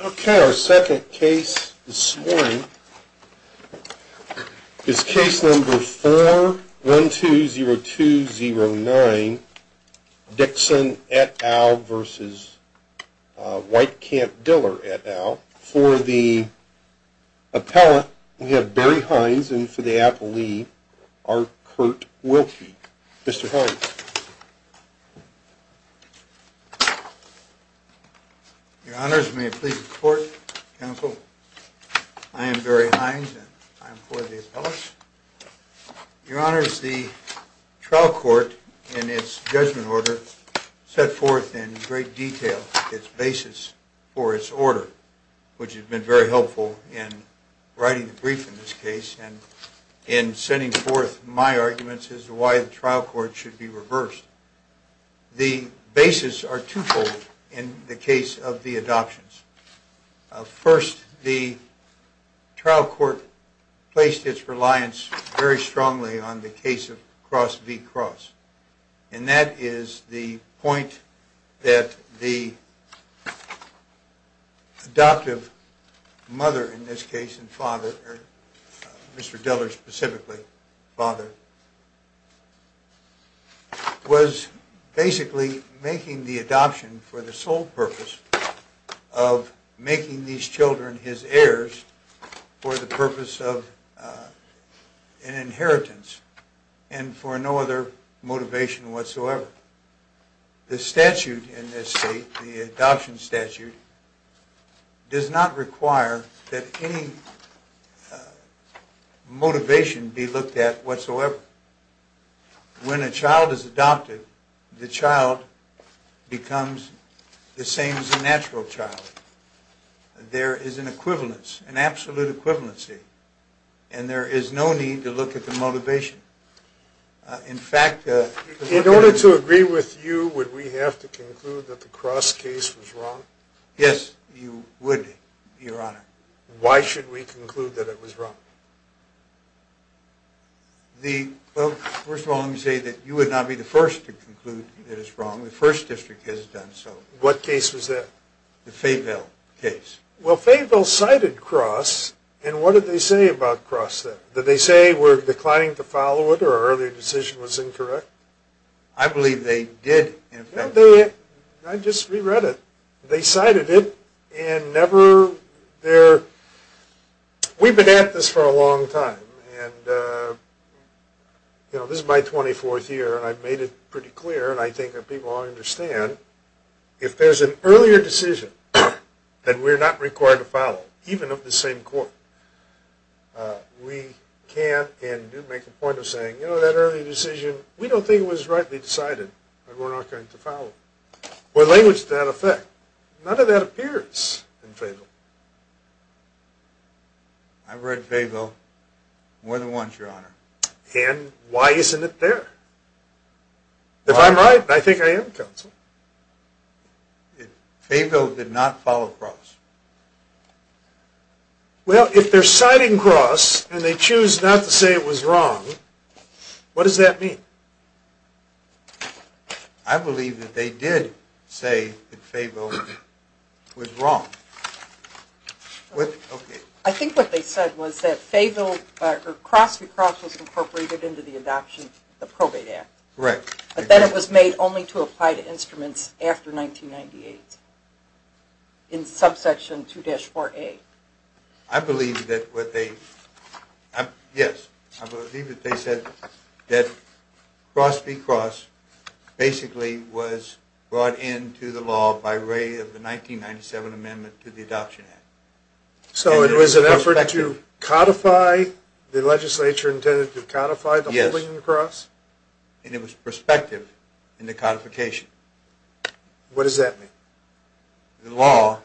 Okay, our second case this morning is case number 4120209, Dixon et al. v. Weitekamp-Diller et al. For the appellate, we have Barry Hines, and for the appellee, our Kurt Wilkie. Mr. Hines. Your Honors, may it please the Court, Counsel, I am Barry Hines and I am for the appellate. Your Honors, the trial court in its judgment order set forth in great detail its basis for its order, which has been very helpful in writing the brief in this case and in sending forth my arguments as to why the trial court should be reversed. The basis are twofold in the case of the adoptions. First, the trial court placed its reliance very strongly on the case of Cross v. Cross, and that is the point that the adoptive mother in this case, and father, Mr. Diller specifically, father, was basically making the adoption for the sole purpose of making these children his heirs for the purpose of an inheritance and for no other motivation whatsoever. The statute in this state, the adoption statute, does not require that any motivation be looked at whatsoever. When a child is adopted, the child becomes the same as a natural child. There is an equivalence, an absolute equivalency, and there is no need to look at the motivation. In fact... In order to agree with you, would we have to conclude that the Cross case was wrong? Yes, you would, Your Honor. Why should we conclude that it was wrong? Well, first of all, let me say that you would not be the first to conclude that it is wrong. The First District has done so. What case was that? The Fayville case. Well, Fayville cited Cross, and what did they say about Cross then? Did they say we're declining to follow it or our earlier decision was incorrect? I believe they did, in fact. I just re-read it. They cited it, and never... We've been at this for a long time, and this is my 24th year, and I've made it pretty clear, and I think that people understand. If there's an earlier decision that we're not required to follow, even of the same court, we can't make a point of saying, you know, that early decision, we don't think it was rightly decided that we're not going to follow. Or language to that effect. None of that appears in Fayville. I've read Fayville more than once, Your Honor. And why isn't it there? If I'm right, I think I am, Counsel. Fayville did not follow Cross. Well, if they're citing Cross, and they choose not to say it was wrong, what does that mean? I believe that they did say that Fayville was wrong. I think what they said was that Cross v. Cross was incorporated into the adoption of the Probate Act. Correct. But then it was made only to apply to instruments after 1998, in subsection 2-4A. I believe that what they... Yes, I believe that they said that Cross v. Cross basically was brought into the law by way of the 1997 amendment to the Adoption Act. So it was an effort to codify, the legislature intended to codify the holding of the Cross? And it was prospective in the codification. What does that mean? The law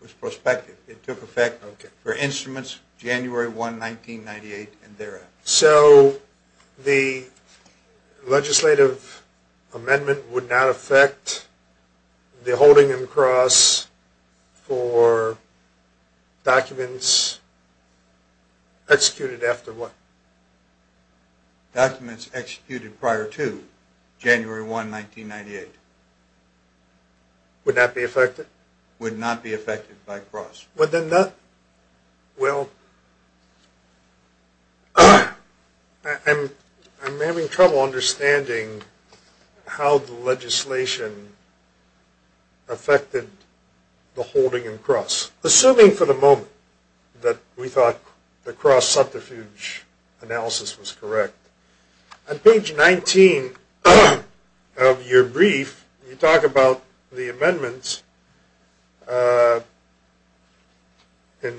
was prospective. It took effect for instruments January 1, 1998 and thereafter. So the legislative amendment would not affect the holding of the Cross for documents executed after what? Documents executed prior to January 1, 1998. Would not be affected? Would not be affected by Cross. Well, I'm having trouble understanding how the legislation affected the holding in Cross. Assuming for the moment that we thought the Cross subterfuge analysis was correct. On page 19 of your brief, you talk about the amendments. It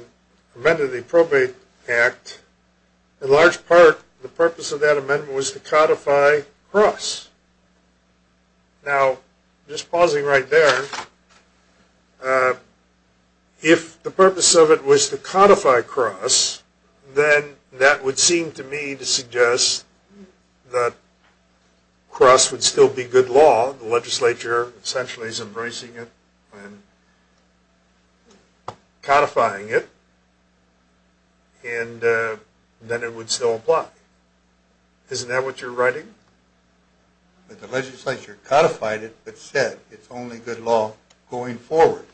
amended the Probate Act. In large part, the purpose of that amendment was to codify Cross. Now, just pausing right there. If the purpose of it was to codify Cross, then that would seem to me to suggest that Cross would still be good law. The legislature essentially is embracing it and codifying it. And then it would still apply. Isn't that what you're writing? The legislature codified it, but said it's only good law going forward.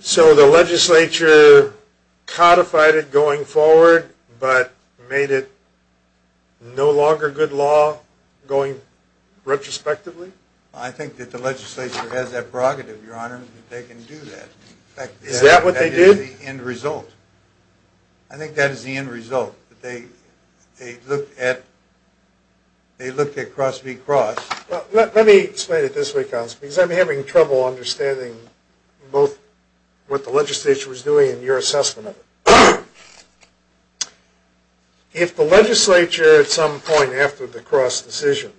So the legislature codified it going forward, but made it no longer good law going retrospectively? I think that the legislature has that prerogative, Your Honor, that they can do that. Is that what they did? That's the end result. I think that is the end result. They looked at Cross v. Cross. Let me explain it this way, Counselor. Because I'm having trouble understanding both what the legislature was doing and your assessment of it. If the legislature at some point after the Cross decision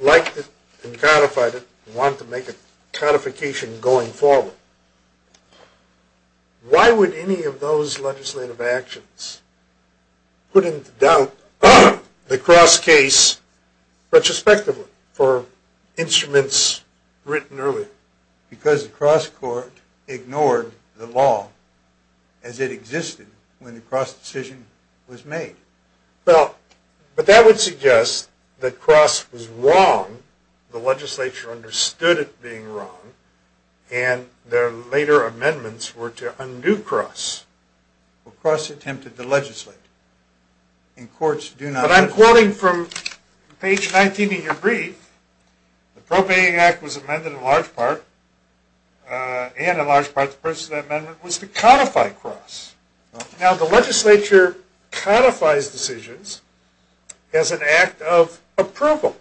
liked it and codified it and wanted to make a codification going forward, why would any of those legislative actions put into doubt the Cross case retrospectively for instruments written earlier? Because the Cross court ignored the law as it existed when the Cross decision was made. But that would suggest that Cross was wrong, the legislature understood it being wrong, and their later amendments were to undo Cross. Well, Cross attempted to legislate. But I'm quoting from page 19 of your brief. The Probating Act was amended in large part, and in large part the purpose of that amendment was to codify Cross. Now, the legislature codifies decisions as an act of approval.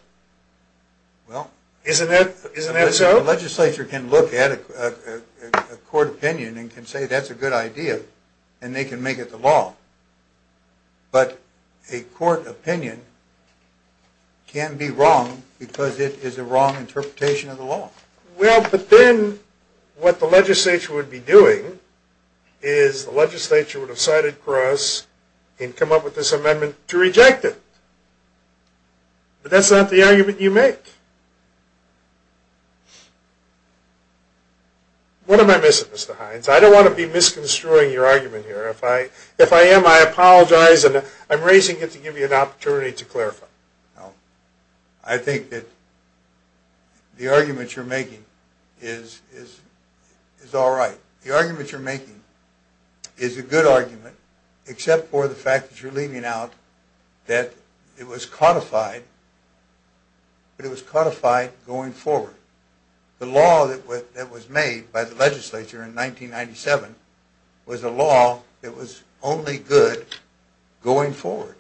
Isn't that so? The legislature can look at a court opinion and can say that's a good idea, and they can make it the law. But a court opinion can be wrong because it is a wrong interpretation of the law. Well, but then what the legislature would be doing is the legislature would have cited Cross and come up with this amendment to reject it. But that's not the argument you make. What am I missing, Mr. Hines? I don't want to be misconstruing your argument here. If I am, I apologize, and I'm raising it to give you an opportunity to clarify. No. I think that the argument you're making is all right. The argument you're making is a good argument, except for the fact that you're leaving out that it was codified going forward. The law that was made by the legislature in 1997 was a law that was only good going forward.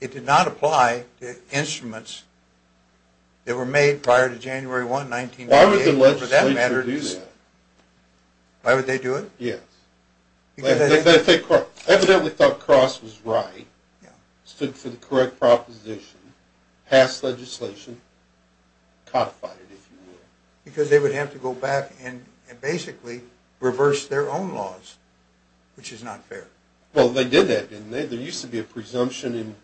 It did not apply to instruments that were made prior to January 1, 1998. Why would the legislature do that? Why would they do it? Yes. They evidently thought Cross was right, stood for the correct proposition, passed legislation, codified it, if you will. Because they would have to go back and basically reverse their own laws, which is not fair. Well, they did that, didn't they? There used to be a presumption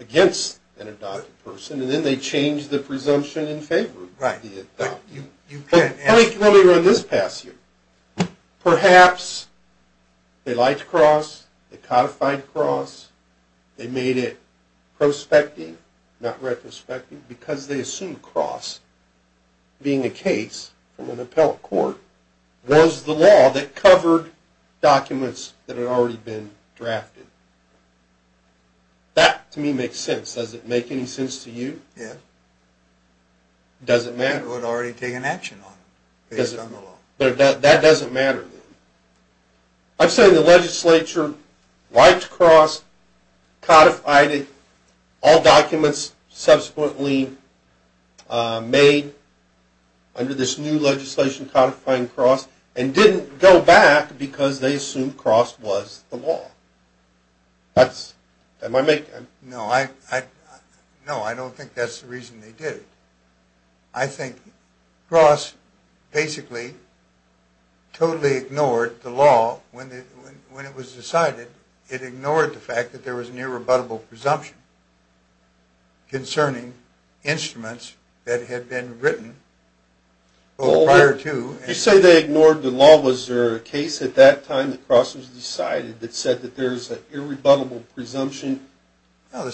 against an adopted person, and then they changed the presumption in favor of the adopted person. Let me run this past you. Perhaps they liked Cross, they codified Cross, they made it prospective, not retrospective, because they assumed Cross, being a case from an appellate court, was the law that covered documents that had already been drafted. That, to me, makes sense. Does it make any sense to you? Yes. It doesn't matter. It would already take an action on it, based on the law. That doesn't matter. I'm saying the legislature liked Cross, codified it, all documents subsequently made under this new legislation codifying Cross, and didn't go back because they assumed Cross was the law. Am I making... No, I don't think that's the reason they did it. I think Cross basically totally ignored the law when it was decided. It ignored the fact that there was an irrebuttable presumption concerning instruments that had been written prior to... You say they ignored the law. Well, was there a case at that time that Cross was decided that said that there's an irrebuttable presumption,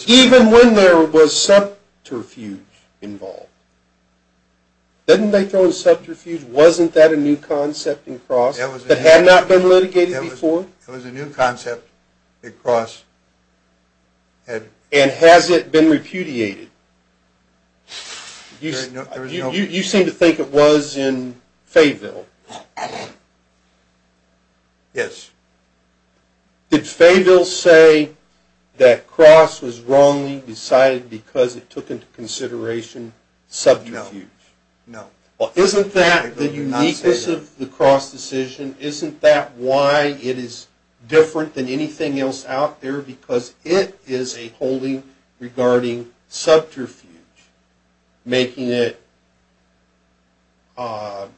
even when there was subterfuge involved? Didn't they throw in subterfuge? Wasn't that a new concept in Cross that had not been litigated before? It was a new concept that Cross had... And has it been repudiated? You seem to think it was in Fayville. Yes. Did Fayville say that Cross was wrongly decided because it took into consideration subterfuge? No. Well, isn't that the uniqueness of the Cross decision? Isn't that why it is different than anything else out there? Because it is a holding regarding subterfuge, making it a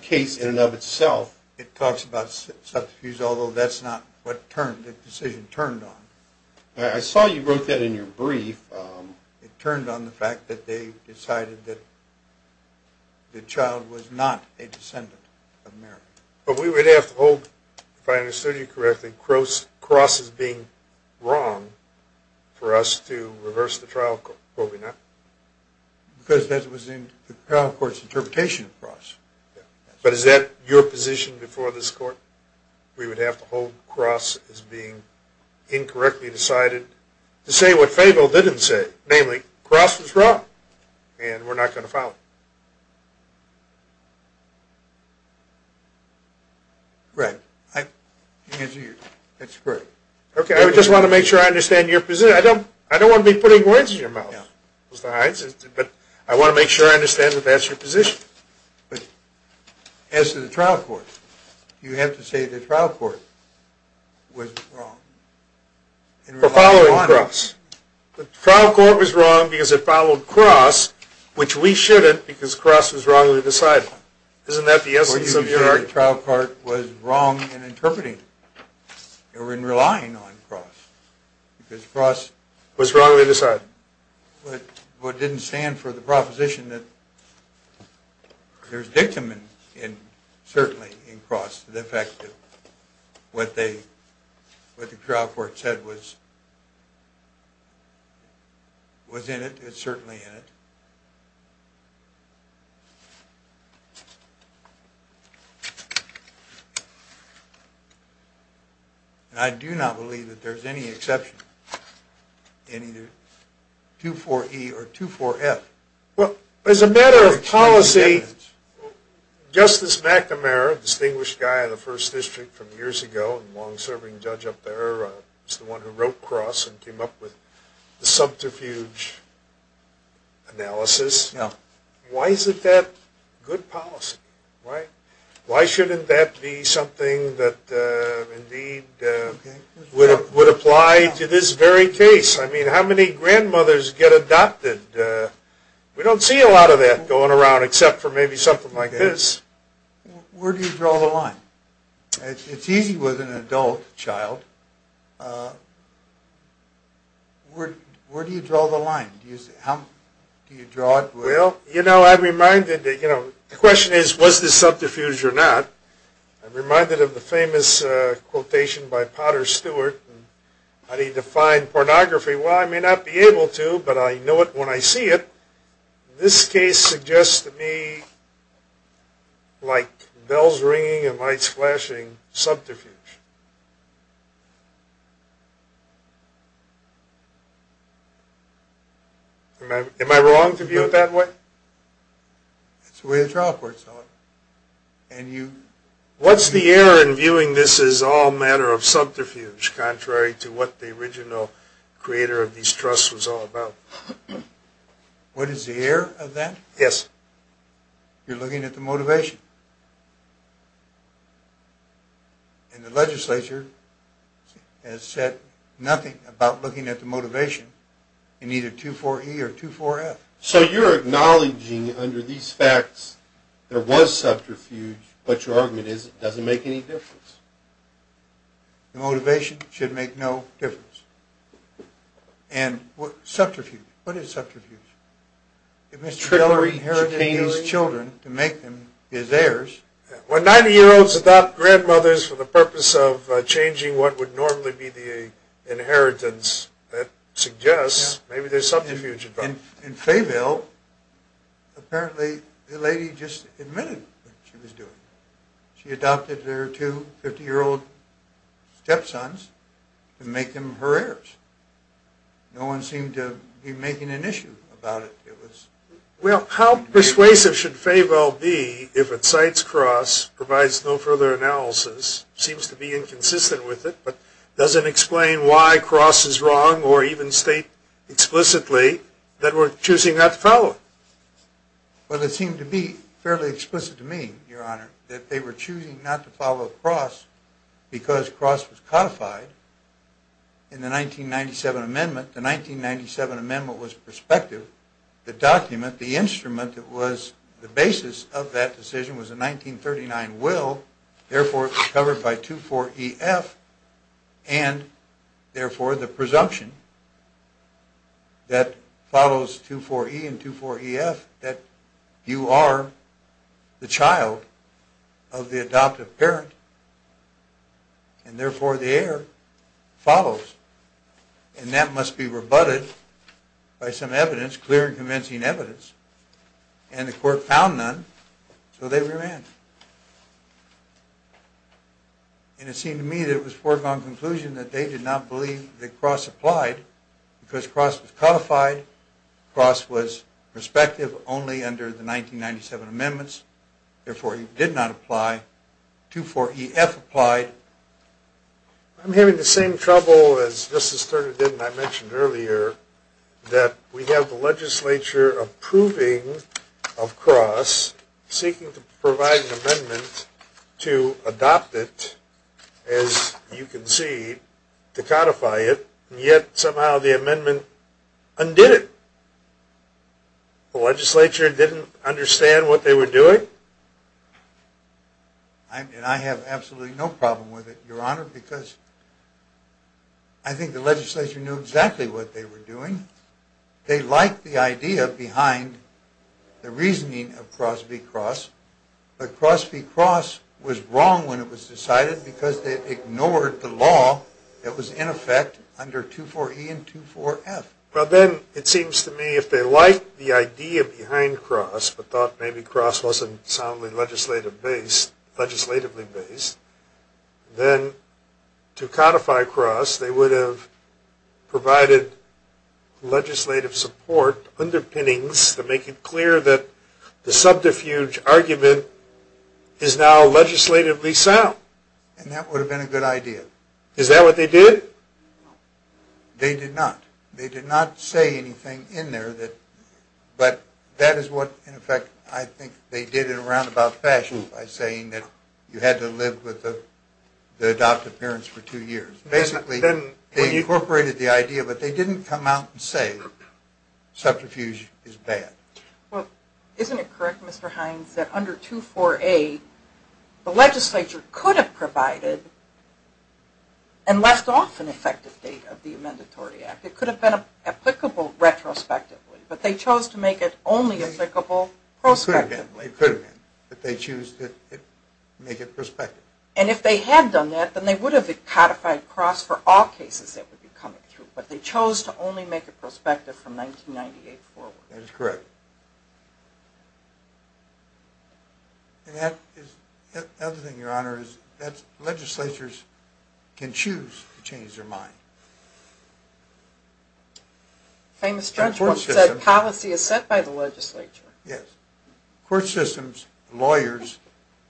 case in and of itself. It talks about subterfuge, although that's not what the decision turned on. I saw you wrote that in your brief. It turned on the fact that they decided that the child was not a descendant of Mary. But we would have to hold, if I understood you correctly, Cross as being wrong for us to reverse the trial, would we not? Because that was in the trial court's interpretation of Cross. But is that your position before this court? We would have to hold Cross as being incorrectly decided to say what Fayville didn't say. Namely, Cross was wrong. And we're not going to follow it. Right. I just want to make sure I understand your position. I don't want to be putting words in your mouth. But I want to make sure I understand that that's your position. As to the trial court, you have to say the trial court was wrong. For following Cross. The trial court was wrong because it followed Cross, which we shouldn't because Cross was wrongly decided. Isn't that the essence of your argument? The trial court was wrong in interpreting it. Or in relying on Cross. Because Cross was wrongly decided. What didn't stand for the proposition that there's dictum, certainly, in Cross. The fact that what the trial court said was in it. It's certainly in it. And I do not believe that there's any exception in either 2-4-E or 2-4-F. Well, as a matter of policy, Justice McNamara, a distinguished guy in the First District from years ago, and a long-serving judge up there, was the one who wrote Cross and came up with the subterfuge analysis. Why isn't that good policy? Why shouldn't that be something that indeed would apply to this very case? I mean, how many grandmothers get adopted? We don't see a lot of that going around except for maybe something like this. Where do you draw the line? It's easy with an adult child. Where do you draw the line? How do you draw it? Well, you know, I'm reminded that, you know, the question is, was this subterfuge or not? I'm reminded of the famous quotation by Potter Stewart. How do you define pornography? Well, I may not be able to, but I know it when I see it. This case suggests to me, like bells ringing and lights flashing, subterfuge. Am I wrong to view it that way? That's the way the trial courts are. What's the error in viewing this as all a matter of subterfuge, contrary to what the original creator of these trusts was all about? What is the error of that? Yes. You're looking at the motivation. And the legislature has said nothing about looking at the motivation in either 24E or 24F. So you're acknowledging under these facts there was subterfuge, but your argument is it doesn't make any difference. The motivation should make no difference. And subterfuge, what is subterfuge? If Mr. Geller inherited these children to make them his heirs. When 90-year-olds adopt grandmothers for the purpose of changing what would normally be the inheritance, that suggests maybe there's subterfuge involved. In Fayville, apparently the lady just admitted what she was doing. She adopted her two 50-year-old step-sons to make them her heirs. No one seemed to be making an issue about it. Well, how persuasive should Fayville be if it cites Cross, provides no further analysis, seems to be inconsistent with it, but doesn't explain why Cross is wrong, or even state explicitly that we're choosing not to follow it. Well, it seemed to be fairly explicit to me, Your Honor, that they were choosing not to follow Cross because Cross was codified in the 1997 amendment. The 1997 amendment was prospective. The document, the instrument that was the basis of that decision was a 1939 will, therefore covered by 2-4-E-F, and therefore the presumption that follows 2-4-E and 2-4-E-F that you are the child of the adoptive parent, and therefore the heir follows, and that must be rebutted by some evidence, clear and convincing evidence, and the court found none, so they remanded. And it seemed to me that it was a foregone conclusion that they did not believe that Cross applied because Cross was codified, Cross was prospective only under the 1997 amendments, therefore it did not apply. 2-4-E-F applied. I'm having the same trouble as Justice Turner did and I mentioned earlier that we have the legislature approving of Cross, seeking to provide an amendment to adopt it, as you can see, to codify it, and yet somehow the amendment undid it. The legislature didn't understand what they were doing? And I have absolutely no problem with it, Your Honor, because I think the legislature knew exactly what they were doing. They liked the idea behind the reasoning of Cross v. Cross, but Cross v. Cross was wrong when it was decided because they ignored the law that was in effect under 2-4-E and 2-4-F. Well, then it seems to me if they liked the idea behind Cross but thought maybe Cross wasn't soundly legislatively based, then to codify Cross they would have provided legislative support, underpinnings to make it clear that the subterfuge argument is now legislatively sound. And that would have been a good idea. Is that what they did? They did not. They did not say anything in there, but that is what, in effect, I think they did in a roundabout fashion by saying that you had to live with the adoptive parents for two years. Basically, they incorporated the idea, but they didn't come out and say subterfuge is bad. Well, isn't it correct, Mr. Hines, that under 2-4-A, the legislature could have provided and left off an effective date of the Amendatory Act. It could have been applicable retrospectively, but they chose to make it only applicable prospectively. It could have been, but they chose to make it prospective. And if they had done that, then they would have codified Cross for all cases that would be coming through, but they chose to only make it prospective from 1998 forward. That is correct. And the other thing, Your Honor, is that legislatures can choose to change their mind. A famous judge once said, policy is set by the legislature. Yes. Court systems, lawyers,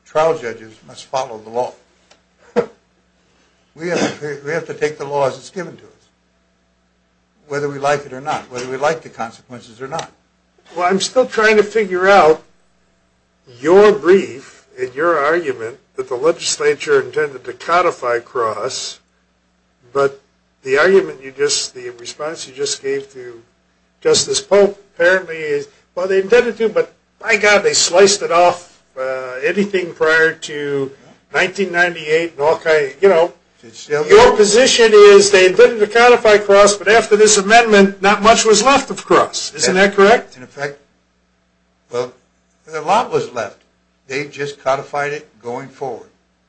trial judges must follow the law. We have to take the law as it is given to us, whether we like it or not, whether we like the consequences or not. Well, I am still trying to figure out your brief and your argument that the legislature intended to codify Cross, but the argument, the response you just gave to Justice Pope apparently is, well, they intended to, but by God, they sliced it off anything prior to 1998 and all kinds of, you know. Your position is they intended to codify Cross, but after this amendment, not much was left of Cross. Isn't that correct? In effect, well, a lot was left. They just codified it going forward.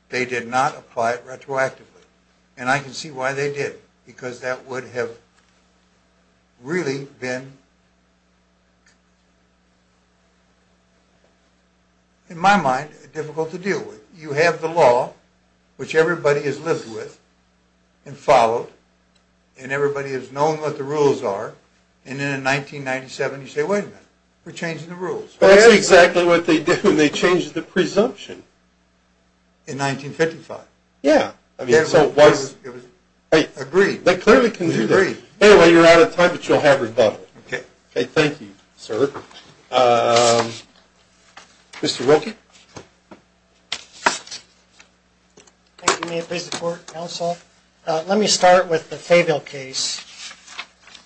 They did not apply it retroactively. And I can see why they did, because that would have really been, in my mind, difficult to deal with. You have the law, which everybody has lived with and followed, and everybody has known what the rules are, and then in 1997 you say, wait a minute, we're changing the rules. That's exactly what they did when they changed the presumption. In 1955. Yeah. I mean, so it was. I agree. They clearly can do that. Anyway, you're out of time, but you'll have rebuttal. Okay. Okay, thank you, sir. Mr. Wilkie? Thank you. May it please the Court, Counsel. Let me start with the Fabel case.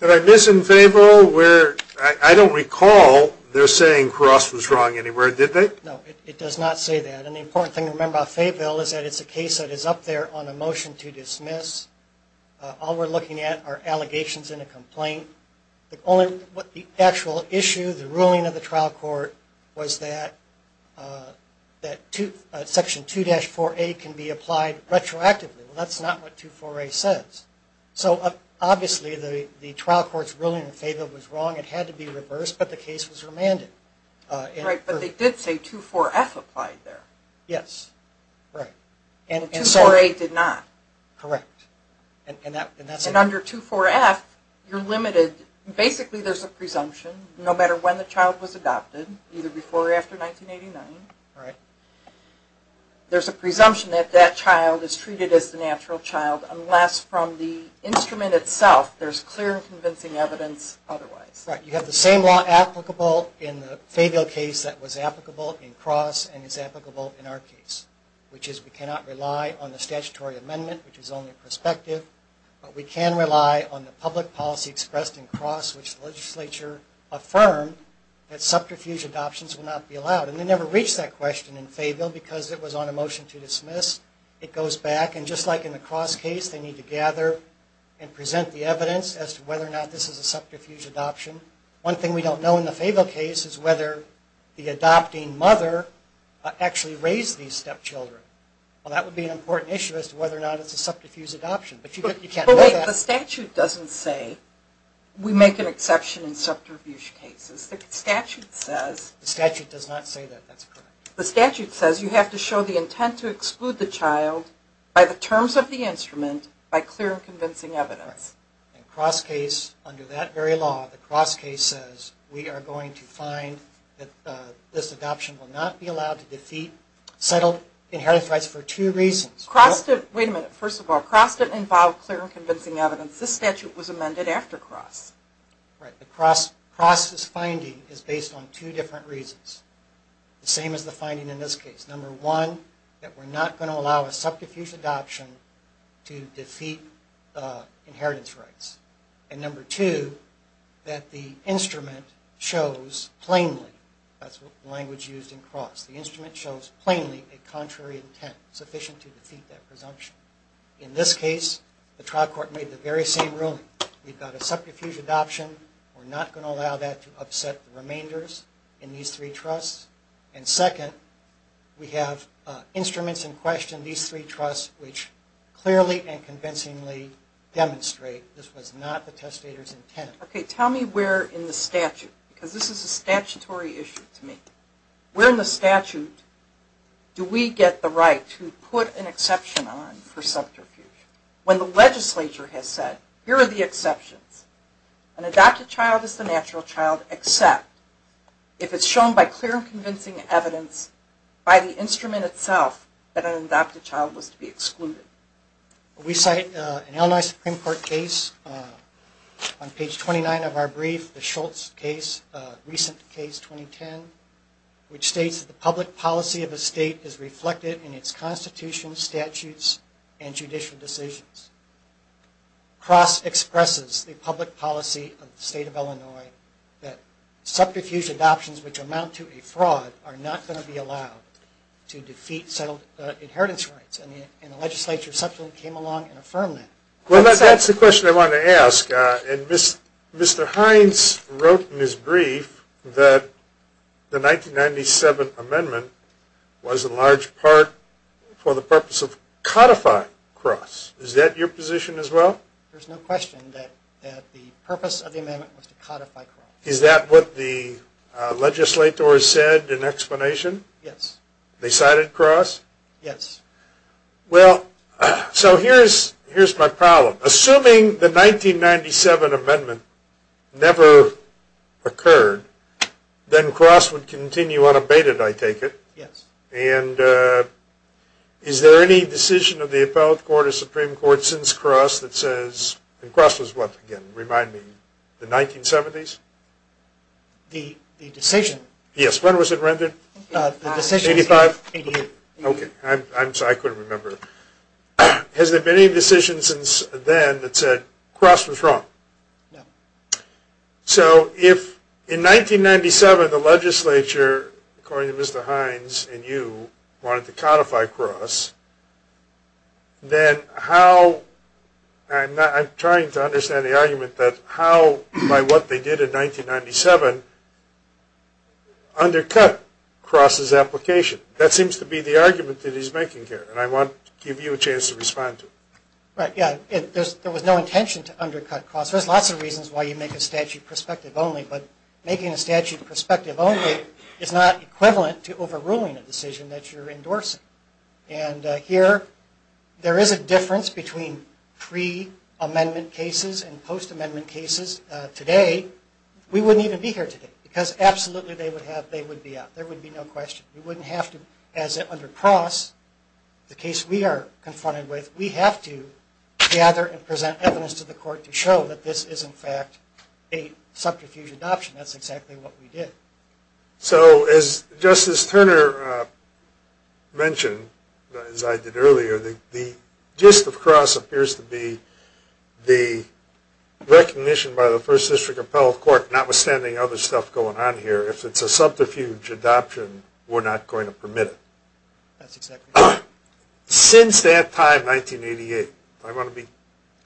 Did I miss in Fabel where I don't recall they're saying Cross was wrong anywhere, did they? No, it does not say that. And the important thing to remember about Fabel is that it's a case that is up there on a motion to dismiss. All we're looking at are allegations in a complaint. The actual issue, the ruling of the trial court, was that Section 2-4A can be applied retroactively. That's not what 2-4A says. So, obviously, the trial court's ruling in Fabel was wrong. It had to be reversed, but the case was remanded. Right, but they did say 2-4F applied there. Yes. Right. And 2-4A did not. Correct. And under 2-4F, you're limited. Basically, there's a presumption no matter when the child was adopted, either before or after 1989. Right. And there's a presumption that that child is treated as the natural child, unless from the instrument itself there's clear and convincing evidence otherwise. Right. You have the same law applicable in the Fabel case that was applicable in Cross and is applicable in our case, which is we cannot rely on the statutory amendment, which is only prospective, but we can rely on the public policy expressed in Cross, which the legislature affirmed that subterfuge adoptions would not be allowed. And they never reached that question in Fabel because it was on a motion to dismiss. It goes back, and just like in the Cross case, they need to gather and present the evidence as to whether or not this is a subterfuge adoption. One thing we don't know in the Fabel case is whether the adopting mother actually raised these stepchildren. Well, that would be an important issue as to whether or not it's a subterfuge adoption, but you can't know that. But wait, the statute doesn't say we make an exception in subterfuge cases. The statute says... The statute does not say that that's correct. The statute says you have to show the intent to exclude the child by the terms of the instrument, by clear and convincing evidence. Right. In Cross case, under that very law, the Cross case says we are going to find that this adoption will not be allowed to defeat settled inheritance rights for two reasons. Cross didn't... Wait a minute. First of all, Cross didn't involve clear and convincing evidence. This statute was amended after Cross. Right. Cross' finding is based on two different reasons. The same as the finding in this case. Number one, that we're not going to allow a subterfuge adoption to defeat inheritance rights. And number two, that the instrument shows plainly... That's the language used in Cross. The instrument shows plainly a contrary intent sufficient to defeat that presumption. In this case, the trial court made the very same ruling. We've got a subterfuge adoption. We're not going to allow that to upset the remainders in these three trusts. And second, we have instruments in question, these three trusts, which clearly and convincingly demonstrate this was not the testator's intent. Okay. Tell me where in the statute, because this is a statutory issue to me. Where in the statute do we get the right to put an exception on for subterfuge? When the legislature has said, here are the exceptions. An adopted child is the natural child except if it's shown by clear and convincing evidence by the instrument itself that an adopted child was to be excluded. We cite an Illinois Supreme Court case on page 29 of our brief, the Schultz case, recent case 2010, which states that the public policy of a state is reflected in its constitution, statutes, and judicial decisions. Cross expresses the public policy of the state of Illinois that subterfuge adoptions which amount to a fraud are not going to be allowed to defeat settled inheritance rights. And the legislature subsequently came along and affirmed that. Well, that's the question I wanted to ask. And Mr. Hines wrote in his brief that the 1997 amendment was in large part for the purpose of codify cross. Is that your position as well? There's no question that the purpose of the amendment was to codify cross. Is that what the legislators said in explanation? Yes. They cited cross? Yes. Well, so here's my problem. Assuming the 1997 amendment never occurred, then cross would continue unabated, I take it. Yes. And is there any decision of the appellate court or Supreme Court since cross that says, and cross was what again, remind me, the 1970s? The decision. Yes. When was it rendered? The decision was in 88. Okay. I'm sorry, I couldn't remember. Has there been any decision since then that said cross was wrong? No. So if in 1997 the legislature, according to Mr. Hines and you, wanted to codify cross, then how, and I'm trying to understand the argument, that how by what they did in 1997 undercut cross's application. That seems to be the argument that he's making here, and I want to give you a chance to respond to it. Right. Yeah. There was no intention to undercut cross. There's lots of reasons why you make a statute perspective only, but making a statute perspective only is not equivalent to overruling a decision that you're endorsing. And here there is a difference between pre-amendment cases and post-amendment cases. Today we wouldn't even be here today because absolutely they would be out. There would be no question. We wouldn't have to, as under cross, the case we are confronted with, we have to gather and present evidence to the court to show that this is in fact a subterfuge adoption. That's exactly what we did. So as Justice Turner mentioned, as I did earlier, the gist of cross appears to be the recognition by the First District Appellate Court, notwithstanding other stuff going on here, if it's a subterfuge adoption, we're not going to permit it. That's exactly right. Since that time, 1988, I want to be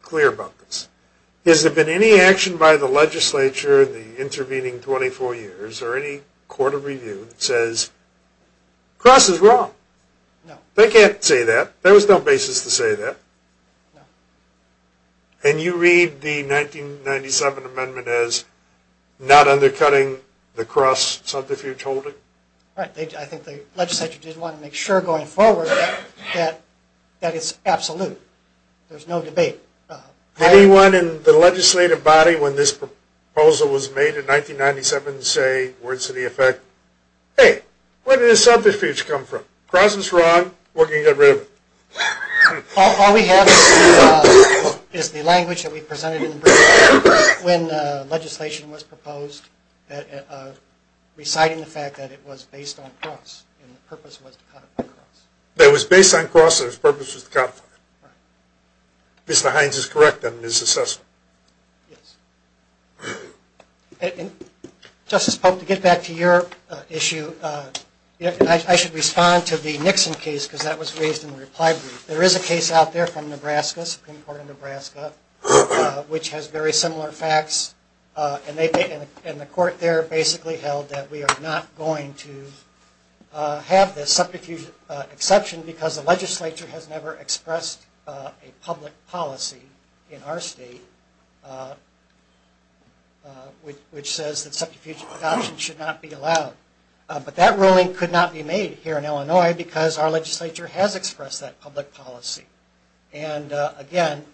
clear about this. Has there been any action by the legislature in the intervening 24 years or any court of review that says cross is wrong? No. They can't say that. There was no basis to say that. No. And you read the 1997 amendment as not undercutting the cross subterfuge holding? Right. I think the legislature did want to make sure going forward that it's absolute. There's no debate. Did anyone in the legislative body when this proposal was made in 1997 say words to the effect, hey, where did this subterfuge come from? Cross is wrong. We're going to get rid of it. All we have is the language that we presented when legislation was proposed reciting the fact that it was based on cross and the purpose was to codify cross. It was based on cross and its purpose was to codify it. Right. Mr. Hines is correct in his assessment. Yes. Justice Pope, to get back to your issue, I should respond to the Nixon case because that was raised in the reply brief. There is a case out there from Nebraska, Supreme Court of Nebraska, which has very similar facts, and the court there basically held that we are not going to have this subterfuge exception because the legislature has never expressed a public policy in our state which says that subterfuge adoption should not be allowed. But that ruling could not be made here in Illinois because our legislature has expressed that public policy. And again,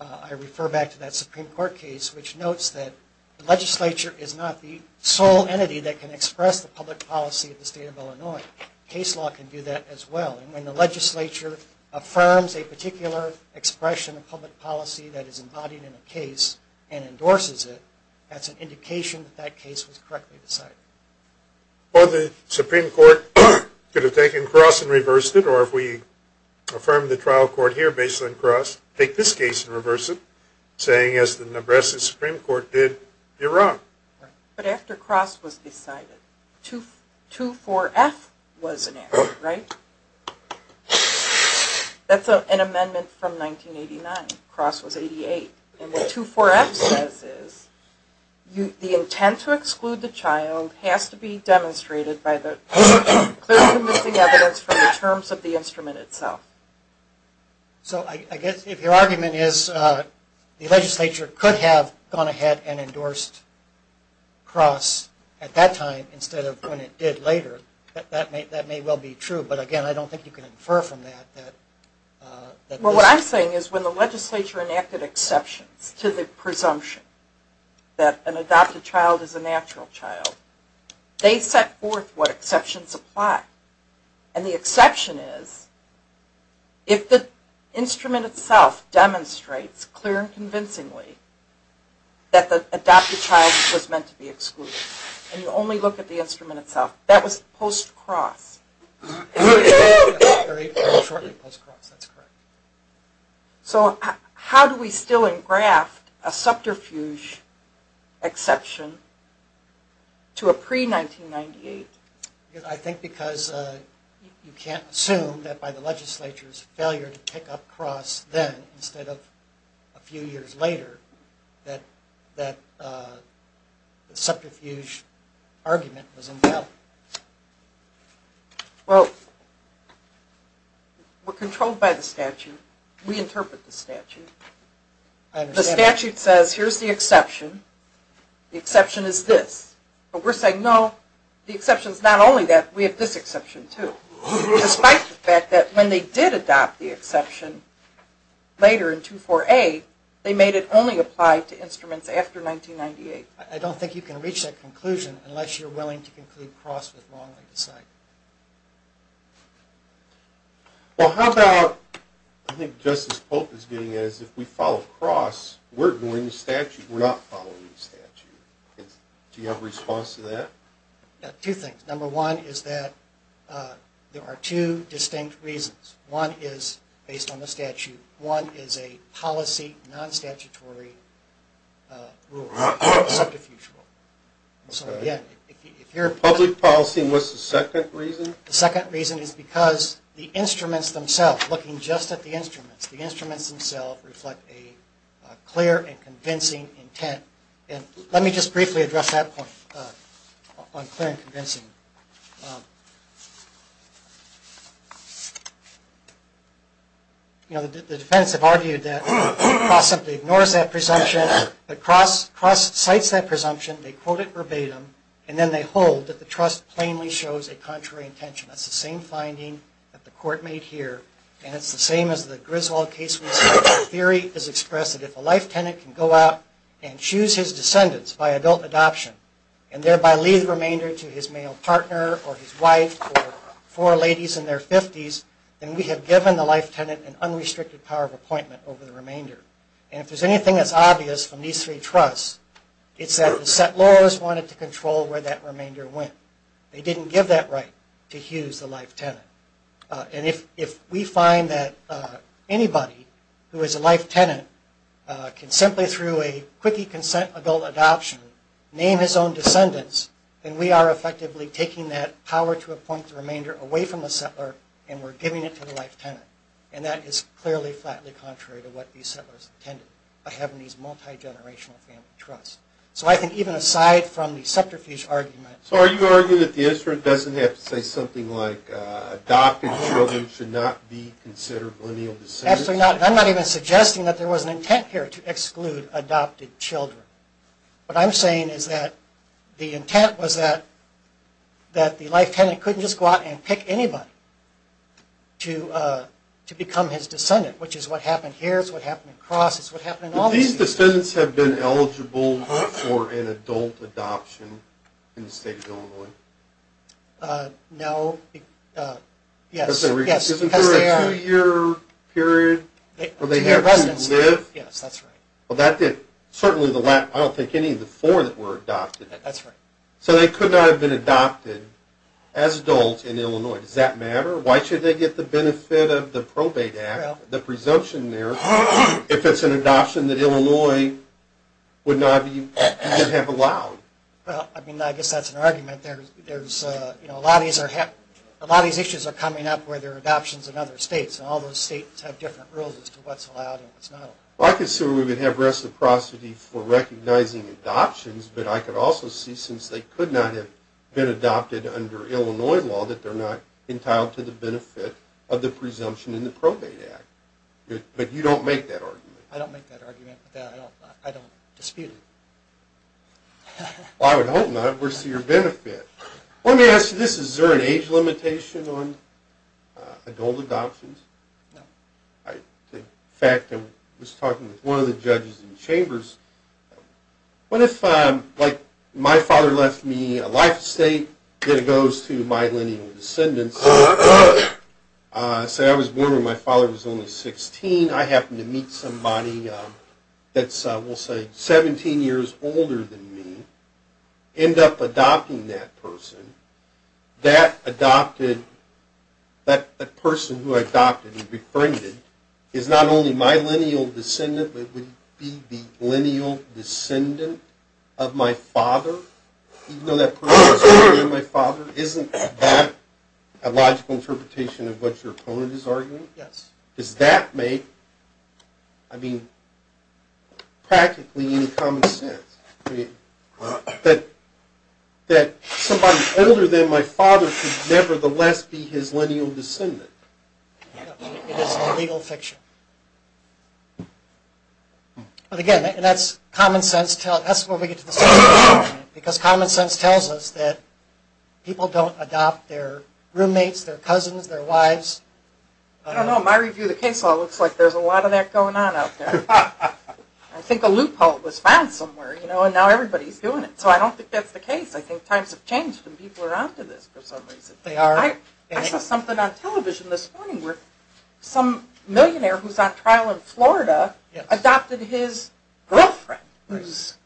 I refer back to that Supreme Court case which notes that the legislature is not the sole entity that can express the public policy of the state of Illinois. Case law can do that as well. And when the legislature affirms a particular expression of public policy that is embodied in a case and endorses it, that's an indication that that case was correctly decided. Well, the Supreme Court could have taken cross and reversed it, or if we affirm the trial court here based on cross, take this case and reverse it, saying as the Nebraska Supreme Court did, you're wrong. But after cross was decided, 2-4-F was enacted, right? That's an amendment from 1989. Cross was 1988. And what 2-4-F says is the intent to exclude the child has to be demonstrated by the clear and convincing evidence from the terms of the instrument itself. So I guess if your argument is the legislature could have gone ahead and endorsed cross at that time instead of when it did later, that may well be true. But again, I don't think you can infer from that. Well, what I'm saying is when the legislature enacted exceptions to the presumption that an adopted child is a natural child, they set forth what exceptions apply. And the exception is if the instrument itself demonstrates clear and convincingly and you only look at the instrument itself. That was post-cross. Very shortly post-cross, that's correct. So how do we still engraft a subterfuge exception to a pre-1998? I think because you can't assume that by the legislature's failure to pick up cross then instead of a few years later that the subterfuge argument was in doubt. Well, we're controlled by the statute. We interpret the statute. The statute says here's the exception. The exception is this. But we're saying, no, the exception is not only that. We have this exception too. Despite the fact that when they did adopt the exception later in 24A, they made it only apply to instruments after 1998. I don't think you can reach that conclusion unless you're willing to conclude cross with wrongly decided. Well, how about I think Justice Polk is getting at is if we follow cross, we're ignoring the statute. We're not following the statute. Do you have a response to that? Two things. Number one is that there are two distinct reasons. One is based on the statute. One is a policy non-statutory rule, subterfuge rule. Public policy, and what's the second reason? The second reason is because the instruments themselves, looking just at the instruments, the instruments themselves reflect a clear and convincing intent. Let me just briefly address that point on clear and convincing. You know, the defendants have argued that cross simply ignores that presumption, that cross cites that presumption, they quote it verbatim, and then they hold that the trust plainly shows a contrary intention. That's the same finding that the court made here, and it's the same as the Griswold case we saw. The theory is expressed that if a life tenant can go out and choose his descendants by adult adoption and thereby leave the remainder to his male partner or his wife or four ladies in their 50s, then we have given the life tenant an unrestricted power of appointment over the remainder. And if there's anything that's obvious from these three trusts, it's that the settlors wanted to control where that remainder went. They didn't give that right to Hughes, the life tenant. And if we find that anybody who is a life tenant can simply through a quickie consent adult adoption name his own descendants, then we are effectively taking that power to appoint the remainder away from the settler and we're giving it to the life tenant. And that is clearly flatly contrary to what these settlers intended by having these multi-generational family trusts. So I think even aside from the sceptrophage argument... Adopted children should not be considered lineal descendants? Absolutely not. I'm not even suggesting that there was an intent here to exclude adopted children. What I'm saying is that the intent was that the life tenant couldn't just go out and pick anybody to become his descendant, which is what happened here, it's what happened in Cross, it's what happened in all these... But these descendants have been eligible for an adult adoption in the state of Illinois? No. Yes. Isn't there a two-year period where they have to live? Yes, that's right. Well, that did... Certainly the last... I don't think any of the four that were adopted. That's right. So they could not have been adopted as adults in Illinois. Does that matter? Why should they get the benefit of the Probate Act, the presumption there, if it's an adoption that Illinois would not have allowed? Well, I mean, I guess that's an argument. A lot of these issues are coming up where there are adoptions in other states, and all those states have different rules as to what's allowed and what's not allowed. Well, I consider we would have reciprocity for recognizing adoptions, but I could also see, since they could not have been adopted under Illinois law, that they're not entitled to the benefit of the presumption in the Probate Act. But you don't make that argument? I don't make that argument. I don't dispute it. Well, I would hope not. It works to your benefit. Let me ask you this. Is there an age limitation on adult adoptions? No. In fact, I was talking with one of the judges in Chambers. What if, like, my father left me a life estate, then it goes to my lineal descendants. Say I was born when my father was only 16. I happen to meet somebody that's, we'll say, 17 years older than me, end up adopting that person. That adopted, that person who I adopted and befriended, is not only my lineal descendant, but would be the lineal descendant of my father, even though that person is already my father. Isn't that a logical interpretation of what your opponent is arguing? Yes. Does that make, I mean, practically any common sense? I mean, that somebody older than my father could nevertheless be his lineal descendant? No. It is illegal fiction. But again, and that's common sense, that's where we get to the second argument, because common sense tells us that people don't adopt their roommates, their cousins, their wives. I don't know. My review of the case law looks like there's a lot of that going on out there. I think a loophole was found somewhere, you know, and now everybody's doing it. So I don't think that's the case. I think times have changed and people are onto this for some reason. They are. I saw something on television this morning where some millionaire who's on trial in Florida adopted his girlfriend, who's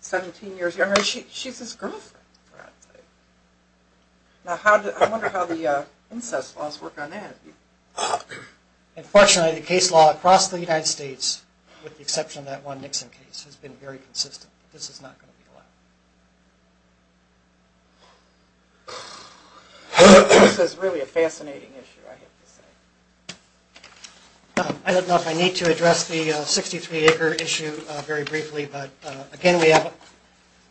17 years younger. She's his girlfriend. Now, I wonder how the incest laws work on that. Unfortunately, the case law across the United States, with the exception of that one Nixon case, has been very consistent. This is not going to be allowed. This is really a fascinating issue, I have to say. I don't know if I need to address the 63-acre issue very briefly, but again, we have a...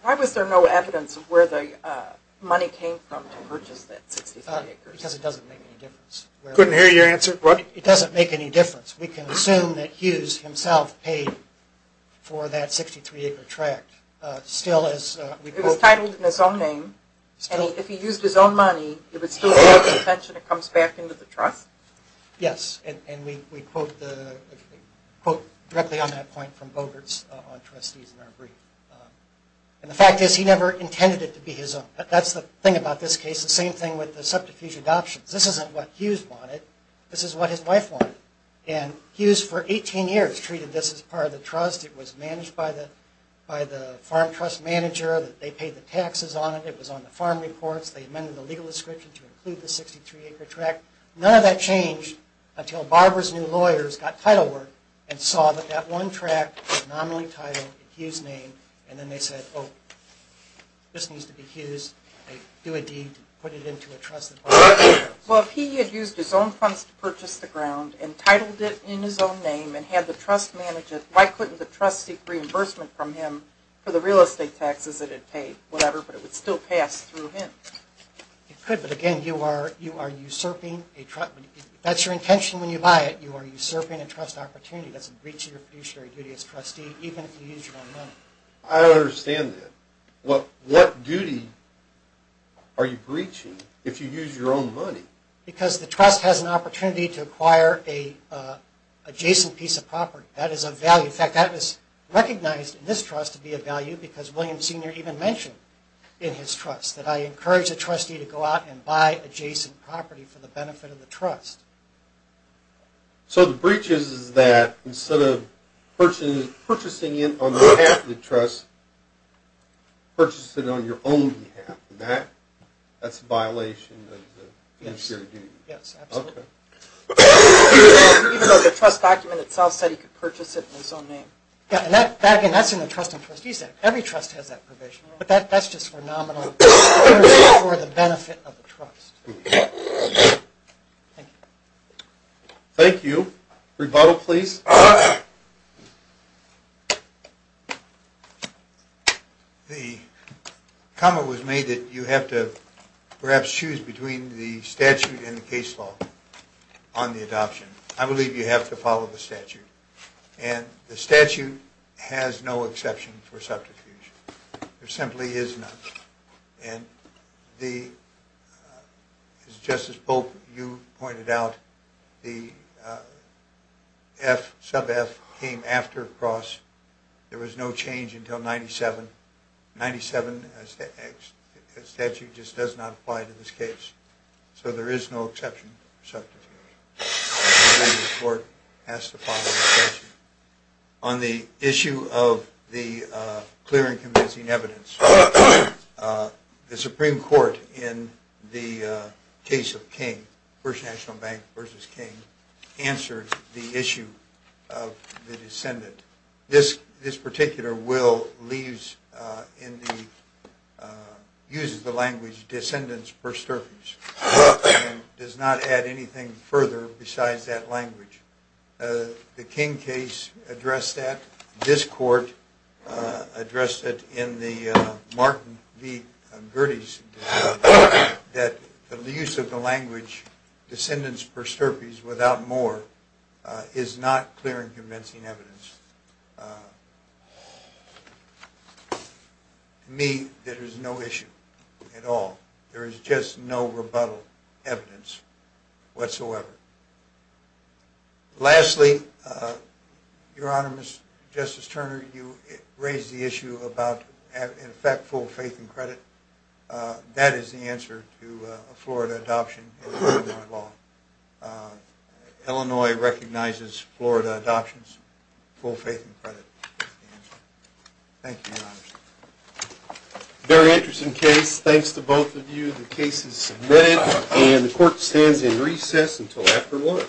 Why was there no evidence of where the money came from to purchase that 63 acres? Because it doesn't make any difference. Couldn't hear your answer. What? It doesn't make any difference. We can assume that Hughes himself paid for that 63-acre tract. It was titled in his own name, and if he used his own money, it would still be out of contention. It comes back into the trust. Yes, and we quote directly on that point from Bogerts on trustees in our brief. And the fact is, he never intended it to be his own. That's the thing about this case. The same thing with the subterfuge adoptions. This isn't what Hughes wanted. This is what his wife wanted. And Hughes, for 18 years, treated this as part of the trust. It was managed by the farm trust manager. They paid the taxes on it. It was on the farm reports. They amended the legal description to include the 63-acre tract. None of that changed until Barber's new lawyers got title work and saw that that one tract was nominally titled in Hughes' name, and then they said, oh, this needs to be Hughes. They do a deed to put it into a trust that Barber has. Well, if he had used his own funds to purchase the ground and titled it in his own name and had the trust manage it, why couldn't the trust seek reimbursement from him for the real estate taxes that it paid, whatever, but it would still pass through him? It could, but, again, you are usurping a trust. If that's your intention when you buy it, you are usurping a trust opportunity. That's a breach of your fiduciary duty as trustee, even if you use your own money. I don't understand that. What duty are you breaching if you use your own money? Because the trust has an opportunity to acquire an adjacent piece of property. That is of value. In fact, that is recognized in this trust to be of value because William Sr. even mentioned in his trust that I encourage the trustee to go out and buy adjacent property for the benefit of the trust. So the breach is that instead of purchasing it on behalf of the trust, purchase it on your own behalf. That's a violation of the fiduciary duty. Yes, absolutely. Even though the trust document itself said he could purchase it in his own name. Again, that's in the Trust and Trustees Act. Every trust has that provision. But that's just for nominal, for the benefit of the trust. Thank you. Thank you. Rebuttal, please. The comment was made that you have to perhaps choose between the statute and the case law on the adoption. I believe you have to follow the statute. And the statute has no exception for subterfuge. There simply is none. And just as both of you pointed out, the sub F came after cross. There was no change until 97. 97 statute just does not apply to this case. So there is no exception for subterfuge. I believe the court has to follow the statute. On the issue of the clear and convincing evidence, the Supreme Court in the case of King, First National Bank versus King, answered the issue of the descendant. This particular will leaves in the uses the language descendants for subterfuge. It does not add anything further besides that language. The King case addressed that. This court addressed it in the Martin v. Gerdes that the use of the language descendants for subterfuge without more is not clear and convincing evidence. To me, there is no issue at all. There is just no rebuttal evidence whatsoever. Lastly, Your Honor, Justice Turner, you raised the issue about, in fact, full faith and credit. That is the answer to a Florida adoption of Illinois law. Illinois recognizes Florida adoptions. Full faith and credit is the answer. Thank you, Your Honor. Very interesting case. Thanks to both of you. The case is submitted. The court stands in recess until after lunch.